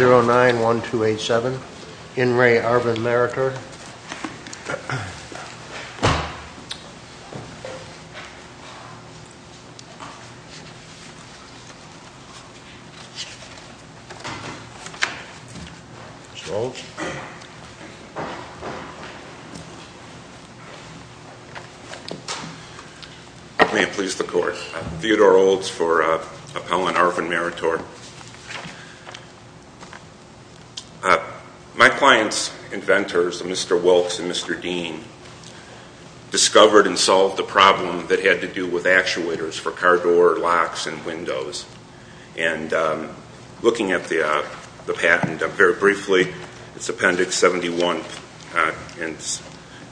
0 9 1 2 8 7 In Re Arvinmeritor May it please the court. Theodore Olds for Appellant Arvinmeritor My client's inventors, Mr. Wilkes and Mr. Dean, discovered and solved the problem that had to do with actuators for car door locks and windows. And looking at the patent very briefly, it's Appendix 71 and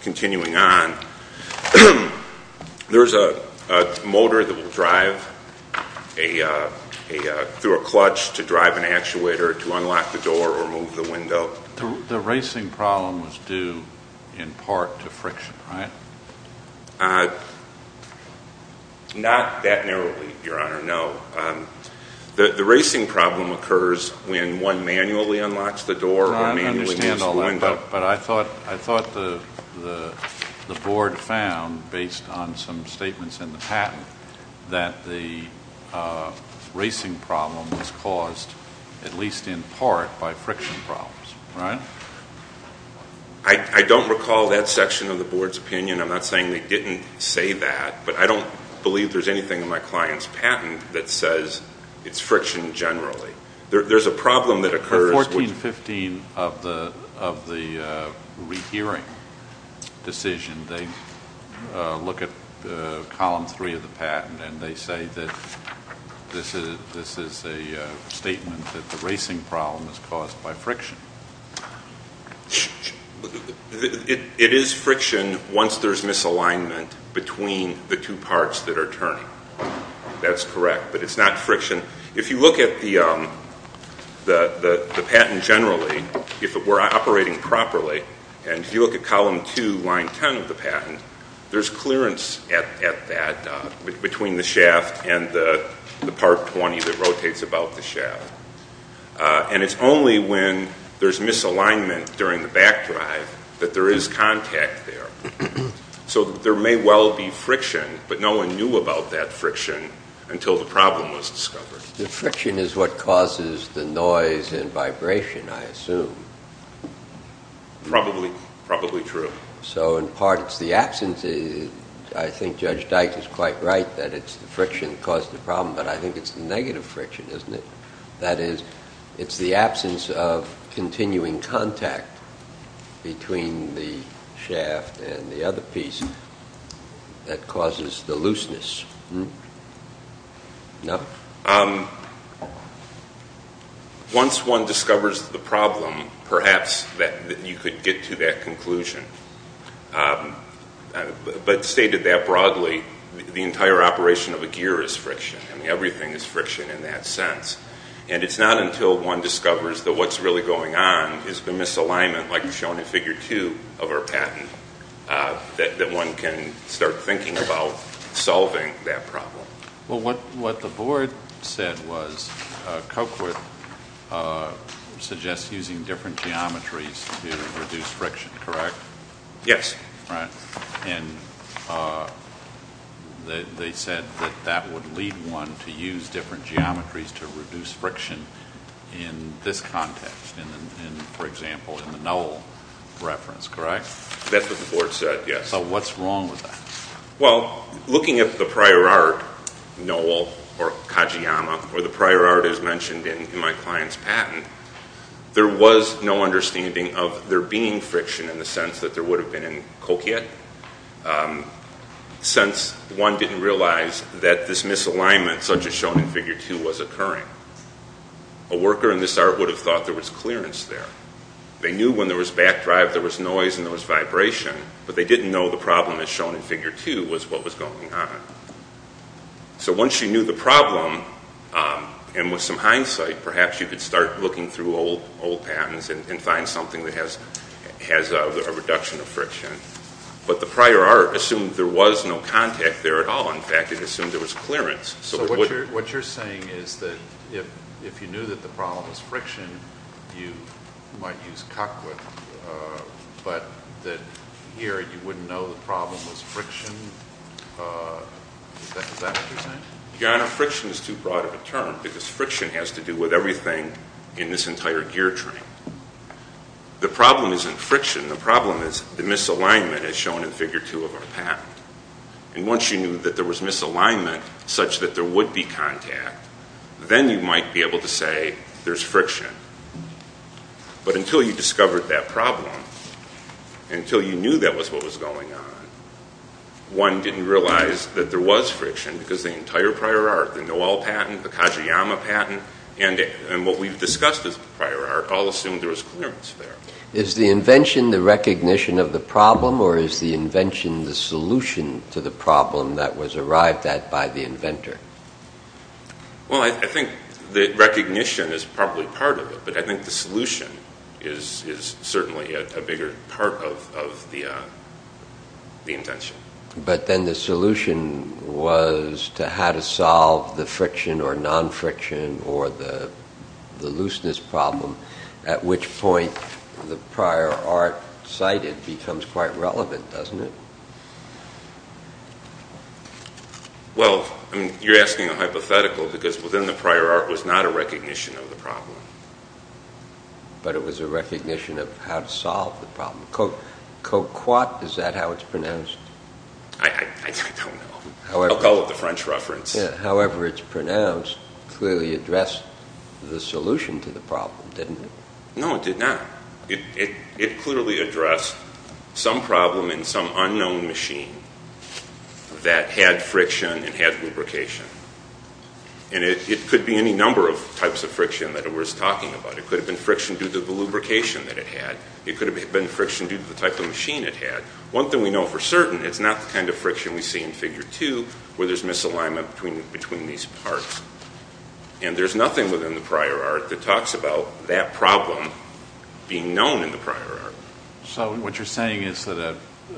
continuing on, there's a motor that will drive through a clutch to drive an actuator to unlock the door or move the window. The racing problem was due in part to friction, right? Not that narrowly, Your Honor. No. The racing problem occurs when one manually unlocks the door or manually moves the window. But I thought the board found, based on some statements in the patent, that the racing problem was caused at least in part by friction problems, right? I don't recall that section of the board's opinion. I'm not saying they didn't say that. But I don't believe there's anything in my client's patent that says it's friction generally. In 1415 of the rehearing decision, they look at Column 3 of the patent and they say that this is a statement that the racing problem is caused by friction. It is friction once there's misalignment between the two parts that are turning. That's correct, but it's not friction. If you look at the patent generally, if it were operating properly, and if you look at Column 2, Line 10 of the patent, there's clearance at that between the shaft and the part 20 that rotates about the shaft. And it's only when there's misalignment during the back drive that there is contact there. So there may well be friction, but no one knew about that friction until the problem was discovered. The friction is what causes the noise and vibration, I assume. Probably true. So in part it's the absence. I think Judge Dyke is quite right that it's the friction that caused the problem, but I think it's the negative friction, isn't it? That is, it's the absence of continuing contact between the shaft and the other piece that causes the looseness. No? Once one discovers the problem, perhaps you could get to that conclusion. But stated that broadly, the entire operation of a gear is friction, and everything is friction in that sense. And it's not until one discovers that what's really going on is the misalignment, like shown in Figure 2 of our patent, that one can start thinking about solving that problem. Well, what the board said was Coquit suggests using different geometries to reduce friction, correct? Yes. And they said that that would lead one to use different geometries to reduce friction in this context, for example, in the knoll reference, correct? That's what the board said, yes. So what's wrong with that? Well, looking at the prior art, Knoll or Kajiyama, or the prior art as mentioned in my client's patent, there was no understanding of there being friction in the sense that there would have been in Coquit, since one didn't realize that this misalignment, such as shown in Figure 2, was occurring. A worker in this art would have thought there was clearance there. They knew when there was back drive there was noise and there was vibration, but they didn't know the problem, as shown in Figure 2, was what was going on. So once you knew the problem, and with some hindsight, perhaps you could start looking through old patents and find something that has a reduction of friction. But the prior art assumed there was no contact there at all. In fact, it assumed there was clearance. So what you're saying is that if you knew that the problem was friction, you might use Coquit, but that here you wouldn't know the problem was friction? Is that what you're saying? Yeah, and friction is too broad of a term, because friction has to do with everything in this entire gear tree. The problem isn't friction. The problem is the misalignment, as shown in Figure 2 of our patent. And once you knew that there was misalignment, such that there would be contact, then you might be able to say there's friction. But until you discovered that problem, until you knew that was what was going on, one didn't realize that there was friction, because the entire prior art, the Noel patent, the Kajiyama patent, and what we've discussed as prior art all assumed there was clearance there. Is the invention the recognition of the problem, or is the invention the solution to the problem that was arrived at by the inventor? Well, I think the recognition is probably part of it, but I think the solution is certainly a bigger part of the invention. But then the solution was to how to solve the friction or non-friction or the looseness problem, at which point the prior art cited becomes quite relevant, doesn't it? Well, you're asking a hypothetical, because within the prior art was not a recognition of the problem. But it was a recognition of how to solve the problem. Co-quat, is that how it's pronounced? I don't know. I'll call it the French reference. However it's pronounced clearly addressed the solution to the problem, didn't it? No, it did not. It clearly addressed some problem in some unknown machine that had friction and had lubrication. And it could be any number of types of friction that it was talking about. It could have been friction due to the lubrication that it had. It could have been friction due to the type of machine it had. One thing we know for certain, it's not the kind of friction we see in Figure 2 where there's misalignment between these parts. And there's nothing within the prior art that talks about that problem being known in the prior art. So what you're saying is that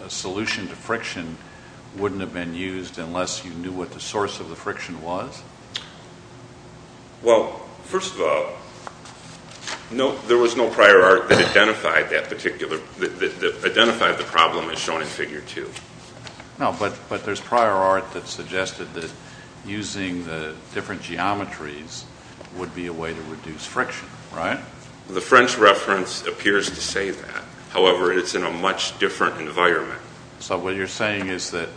a solution to friction wouldn't have been used unless you knew what the source of the friction was? Well, first of all, there was no prior art that identified the problem as shown in Figure 2. No, but there's prior art that suggested that using the different geometries would be a way to reduce friction, right? The French reference appears to say that. However, it's in a much different environment. So what you're saying is that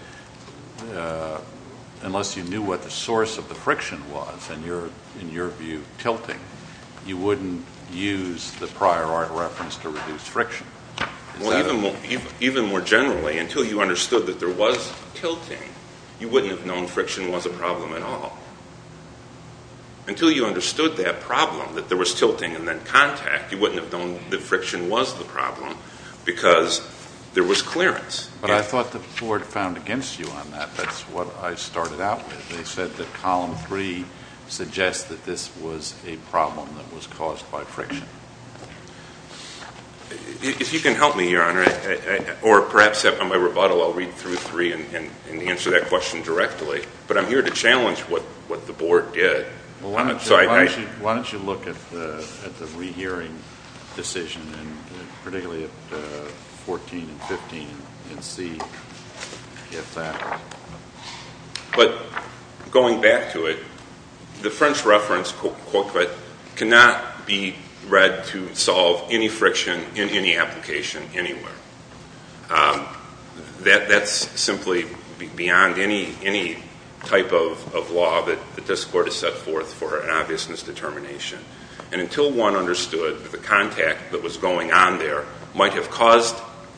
unless you knew what the source of the friction was and you're, in your view, tilting, you wouldn't use the prior art reference to reduce friction? Well, even more generally, until you understood that there was tilting, you wouldn't have known friction was a problem at all. Until you understood that problem, that there was tilting and then contact, you wouldn't have known that friction was the problem because there was clearance. But I thought that Ford found against you on that. That's what I started out with. They said that Column 3 suggests that this was a problem that was caused by friction. If you can help me, Your Honor, or perhaps on my rebuttal I'll read through 3 and answer that question directly. But I'm here to challenge what the Board did. Why don't you look at the rehearing decision, particularly at 14 and 15, and see if that works. But going back to it, the French reference, quote, unquote, cannot be read to solve any friction in any application anywhere. That's simply beyond any type of law that this Court has set forth for an obviousness determination. And until one understood the contact that was going on there might have caused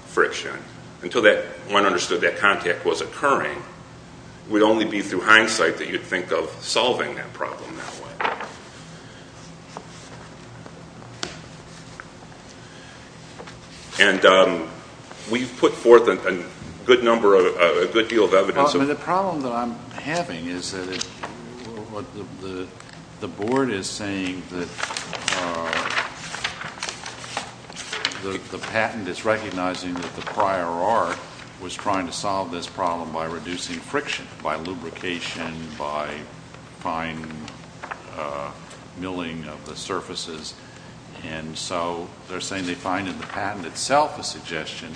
friction, until one understood that contact was occurring, it would only be through hindsight that you'd think of solving that problem that way. And we've put forth a good number, a good deal of evidence. The problem that I'm having is that the Board is saying that the patent is recognizing that the prior art was trying to solve this problem by reducing friction, by lubrication, by fine milling of the surfaces. And so they're saying they find in the patent itself a suggestion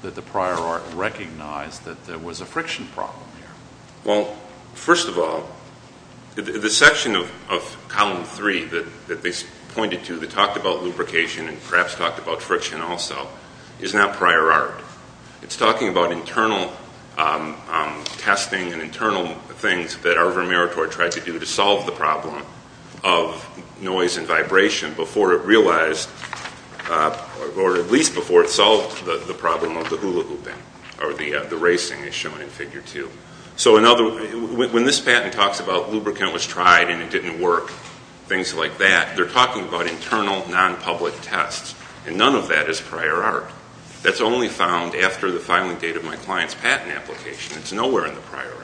that the prior art recognized that there was a friction problem here. Well, first of all, the section of Column 3 that they pointed to that talked about lubrication and perhaps talked about friction also is not prior art. It's talking about internal testing and internal things that Arvo Maratori tried to do to solve the problem of noise and vibration before it realized, or at least before it solved the problem of the hula hooping or the racing as shown in Figure 2. So when this patent talks about lubricant was tried and it didn't work, things like that, they're talking about internal, non-public tests. And none of that is prior art. That's only found after the filing date of my client's patent application. It's nowhere in the prior art.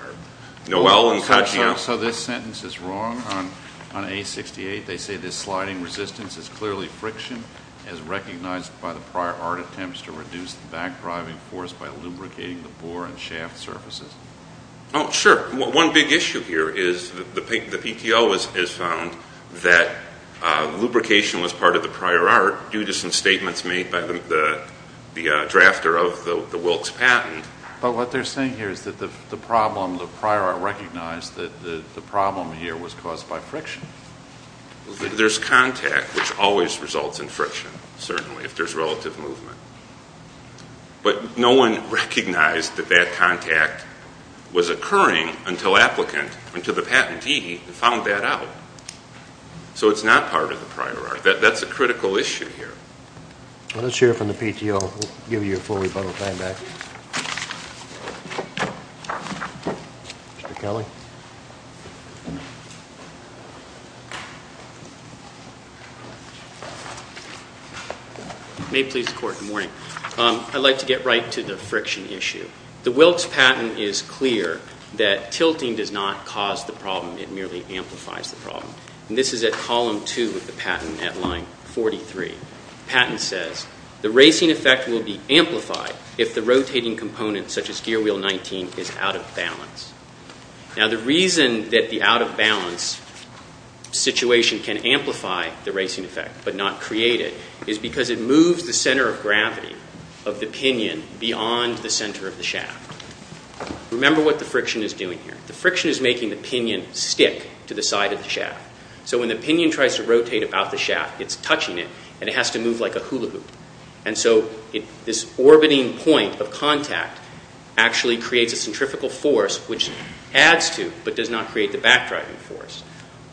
So this sentence is wrong on A68. They say this sliding resistance is clearly friction as recognized by the prior art attempts to reduce the backdriving force by lubricating the bore and shaft surfaces. Sure. One big issue here is the PTO has found that lubrication was part of the prior art due to some statements made by the drafter of the Wilkes patent. But what they're saying here is that the prior art recognized that the problem here was caused by friction. There's contact, which always results in friction, certainly, if there's relative movement. But no one recognized that that contact was occurring until the patentee found that out. So it's not part of the prior art. That's a critical issue here. Let us hear from the PTO. We'll give you your full rebuttal time back. Mr. Kelly? May it please the Court, good morning. I'd like to get right to the friction issue. The Wilkes patent is clear that tilting does not cause the problem. It merely amplifies the problem. And this is at Column 2 of the patent at Line 43. The patent says, The racing effect will be amplified if the rotating component, such as gear wheel 19, is out of balance. Now, the reason that the out-of-balance situation can amplify the racing effect but not create it is because it moves the center of gravity of the pinion beyond the center of the shaft. Remember what the friction is doing here. The friction is making the pinion stick to the side of the shaft. So when the pinion tries to rotate about the shaft, it's touching it, and it has to move like a hula hoop. And so this orbiting point of contact actually creates a centrifugal force which adds to but does not create the back-driving force.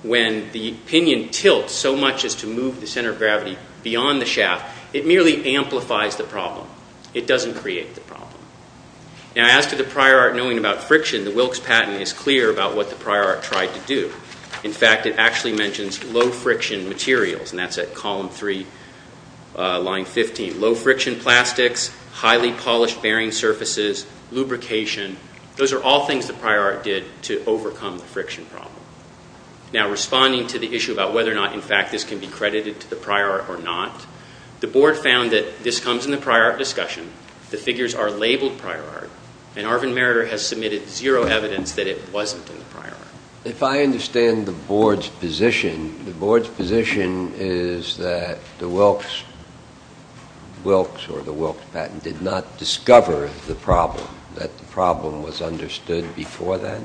When the pinion tilts so much as to move the center of gravity beyond the shaft, it merely amplifies the problem. It doesn't create the problem. Now, as to the prior art knowing about friction, the Wilkes patent is clear about what the prior art tried to do. In fact, it actually mentions low-friction materials, and that's at Column 3, Line 15. Low-friction plastics, highly polished bearing surfaces, lubrication. Those are all things the prior art did to overcome the friction problem. Now, responding to the issue about whether or not, in fact, this can be credited to the prior art or not, the Board found that this comes in the prior art discussion. The figures are labeled prior art, and Arvind Meriter has submitted zero evidence that it wasn't in the prior art. If I understand the Board's position, the Board's position is that the Wilkes patent did not discover the problem, that the problem was understood before that?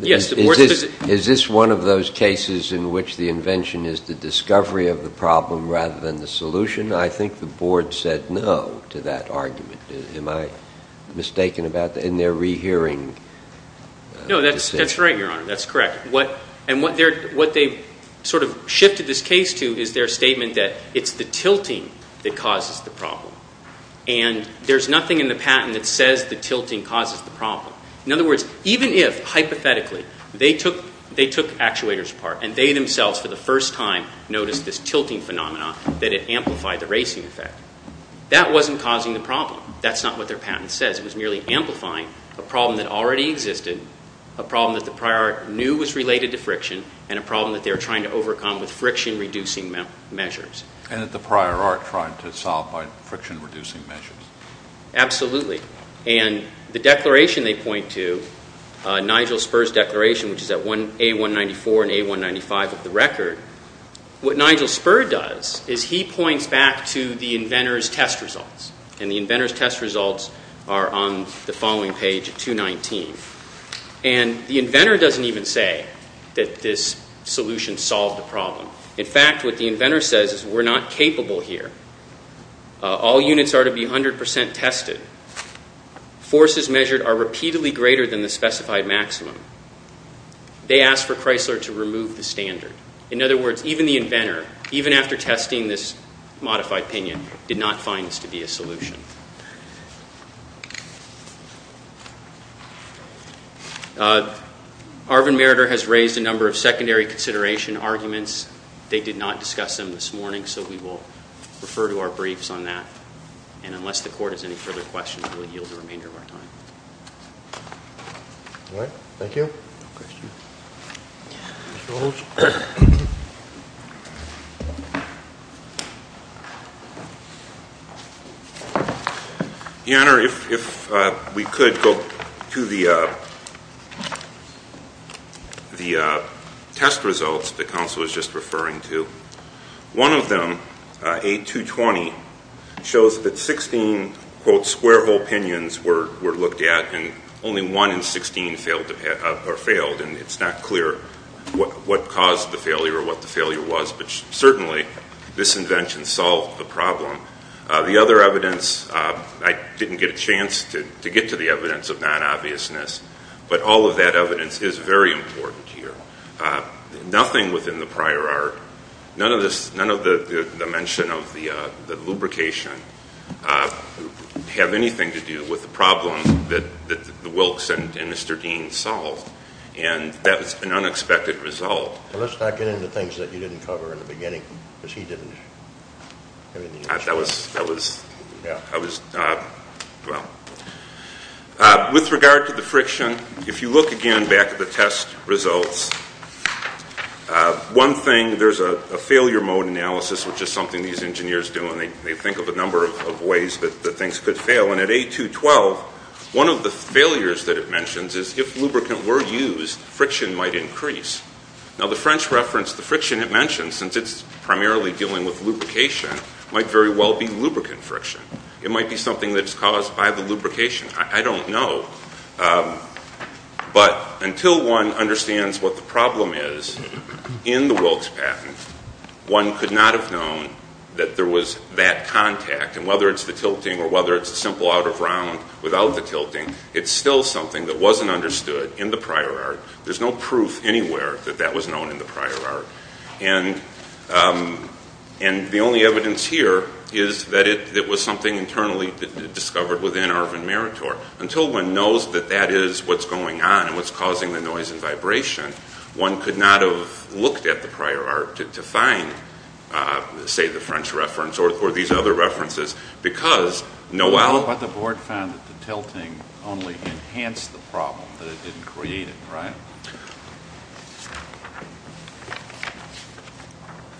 Yes. Is this one of those cases in which the invention is the discovery of the problem rather than the solution? I think the Board said no to that argument. Am I mistaken about that in their rehearing? No, that's right, Your Honor. That's correct. And what they sort of shifted this case to is their statement that it's the tilting that causes the problem, and there's nothing in the patent that says the tilting causes the problem. In other words, even if, hypothetically, they took actuators apart and they themselves for the first time noticed this tilting phenomenon, that it amplified the racing effect, that wasn't causing the problem. That's not what their patent says. It was merely amplifying a problem that already existed, a problem that the prior art knew was related to friction, and a problem that they were trying to overcome with friction-reducing measures. And that the prior art tried to solve by friction-reducing measures. Absolutely. And the declaration they point to, Nigel Spurr's declaration, which is at A194 and A195 of the record, what Nigel Spurr does is he points back to the inventor's test results, and the inventor's test results are on the following page at 219. And the inventor doesn't even say that this solution solved the problem. In fact, what the inventor says is we're not capable here. All units are to be 100% tested. Forces measured are repeatedly greater than the specified maximum. They ask for Chrysler to remove the standard. In other words, even the inventor, even after testing this modified pinion, did not find this to be a solution. Arvin Meriter has raised a number of secondary consideration arguments. They did not discuss them this morning, so we will refer to our briefs on that. And unless the court has any further questions, we'll yield the remainder of our time. All right. Thank you. No questions? Your Honor, if we could go to the test results the counsel was just referring to. One of them, A220, shows that 16, quote, square hole pinions were looked at and only one in 16 failed. And it's not clear what caused the failure or what the failure was, but certainly this invention solved the problem. The other evidence, I didn't get a chance to get to the evidence of non-obviousness, but all of that evidence is very important here. Nothing within the prior art, none of the mention of the lubrication, have anything to do with the problem that the Wilkes and Mr. Dean solved. And that was an unexpected result. Let's not get into things that you didn't cover in the beginning, because he didn't. With regard to the friction, if you look again back at the test results, one thing, there's a failure mode analysis, which is something these engineers do, and they think of a number of ways that things could fail. And at A212, one of the failures that it mentions is if lubricant were used, friction might increase. Now the French reference, the friction it mentions, since it's primarily dealing with lubrication, might very well be lubricant friction. It might be something that's caused by the lubrication. I don't know. But until one understands what the problem is in the Wilkes patent, one could not have known that there was that contact. And whether it's the tilting or whether it's a simple out-of-round without the tilting, it's still something that wasn't understood in the prior art. There's no proof anywhere that that was known in the prior art. And the only evidence here is that it was something internally discovered within Arvin Meritor. Until one knows that that is what's going on and what's causing the noise and vibration, one could not have looked at the prior art to find, say, the French reference or these other references because Noel… But the board found that the tilting only enhanced the problem, that it didn't create it, right?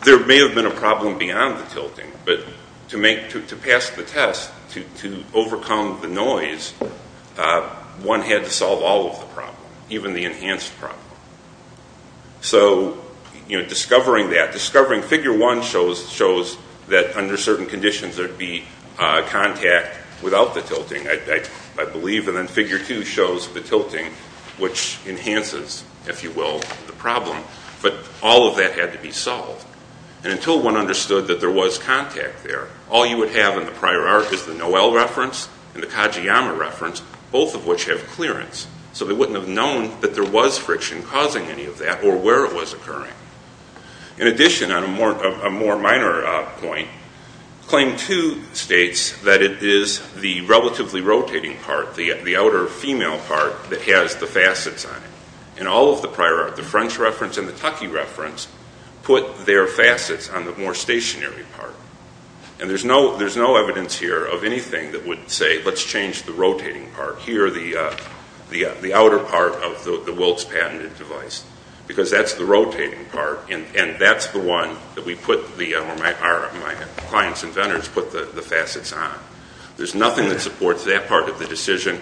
There may have been a problem beyond the tilting, but to pass the test to overcome the noise, one had to solve all of the problems, even the enhanced problem. So discovering that, discovering figure one shows that under certain conditions there would be contact without the tilting, I believe, and then figure two shows the tilting, which enhances, if you will, the problem. But all of that had to be solved. And until one understood that there was contact there, all you would have in the prior art is the Noel reference and the Kajiyama reference, both of which have clearance. So they wouldn't have known that there was friction causing any of that or where it was occurring. In addition, on a more minor point, claim two states that it is the relatively rotating part, the outer female part that has the facets on it. In all of the prior art, the French reference and the Taki reference put their facets on the more stationary part. And there's no evidence here of anything that would say, let's change the rotating part here, the outer part of the Wilkes patented device, because that's the rotating part, and that's the one that we put, or my client's inventors put the facets on. There's nothing that supports that part of the decision.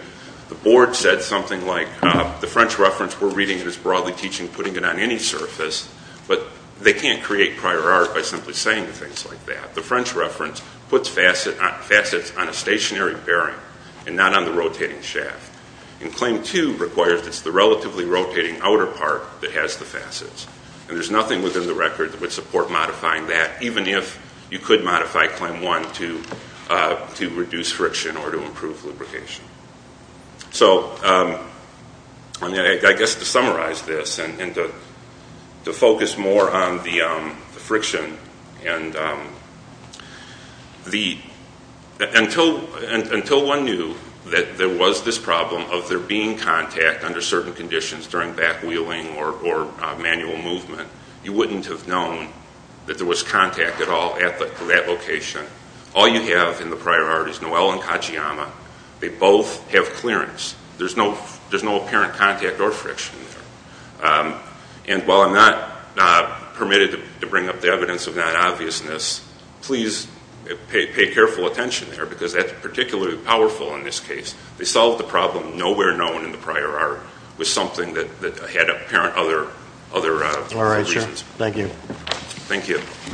The board said something like, the French reference, we're reading it as broadly teaching, putting it on any surface, but they can't create prior art by simply saying things like that. The French reference puts facets on a stationary bearing and not on the rotating shaft. And claim two requires it's the relatively rotating outer part that has the facets. And there's nothing within the record that would support modifying that, even if you could modify claim one to reduce friction or to improve lubrication. So I guess to summarize this and to focus more on the friction, until one knew that there was this problem of there being contact under certain conditions during back wheeling or manual movement, you wouldn't have known that there was contact at all at that location. All you have in the prior art is Noel and Kajiyama. They both have clearance. There's no apparent contact or friction there. And while I'm not permitted to bring up the evidence of that obviousness, please pay careful attention there because that's particularly powerful in this case. They solved the problem nowhere known in the prior art with something that had apparent other reasons. All right, sure. Thank you. Thank you.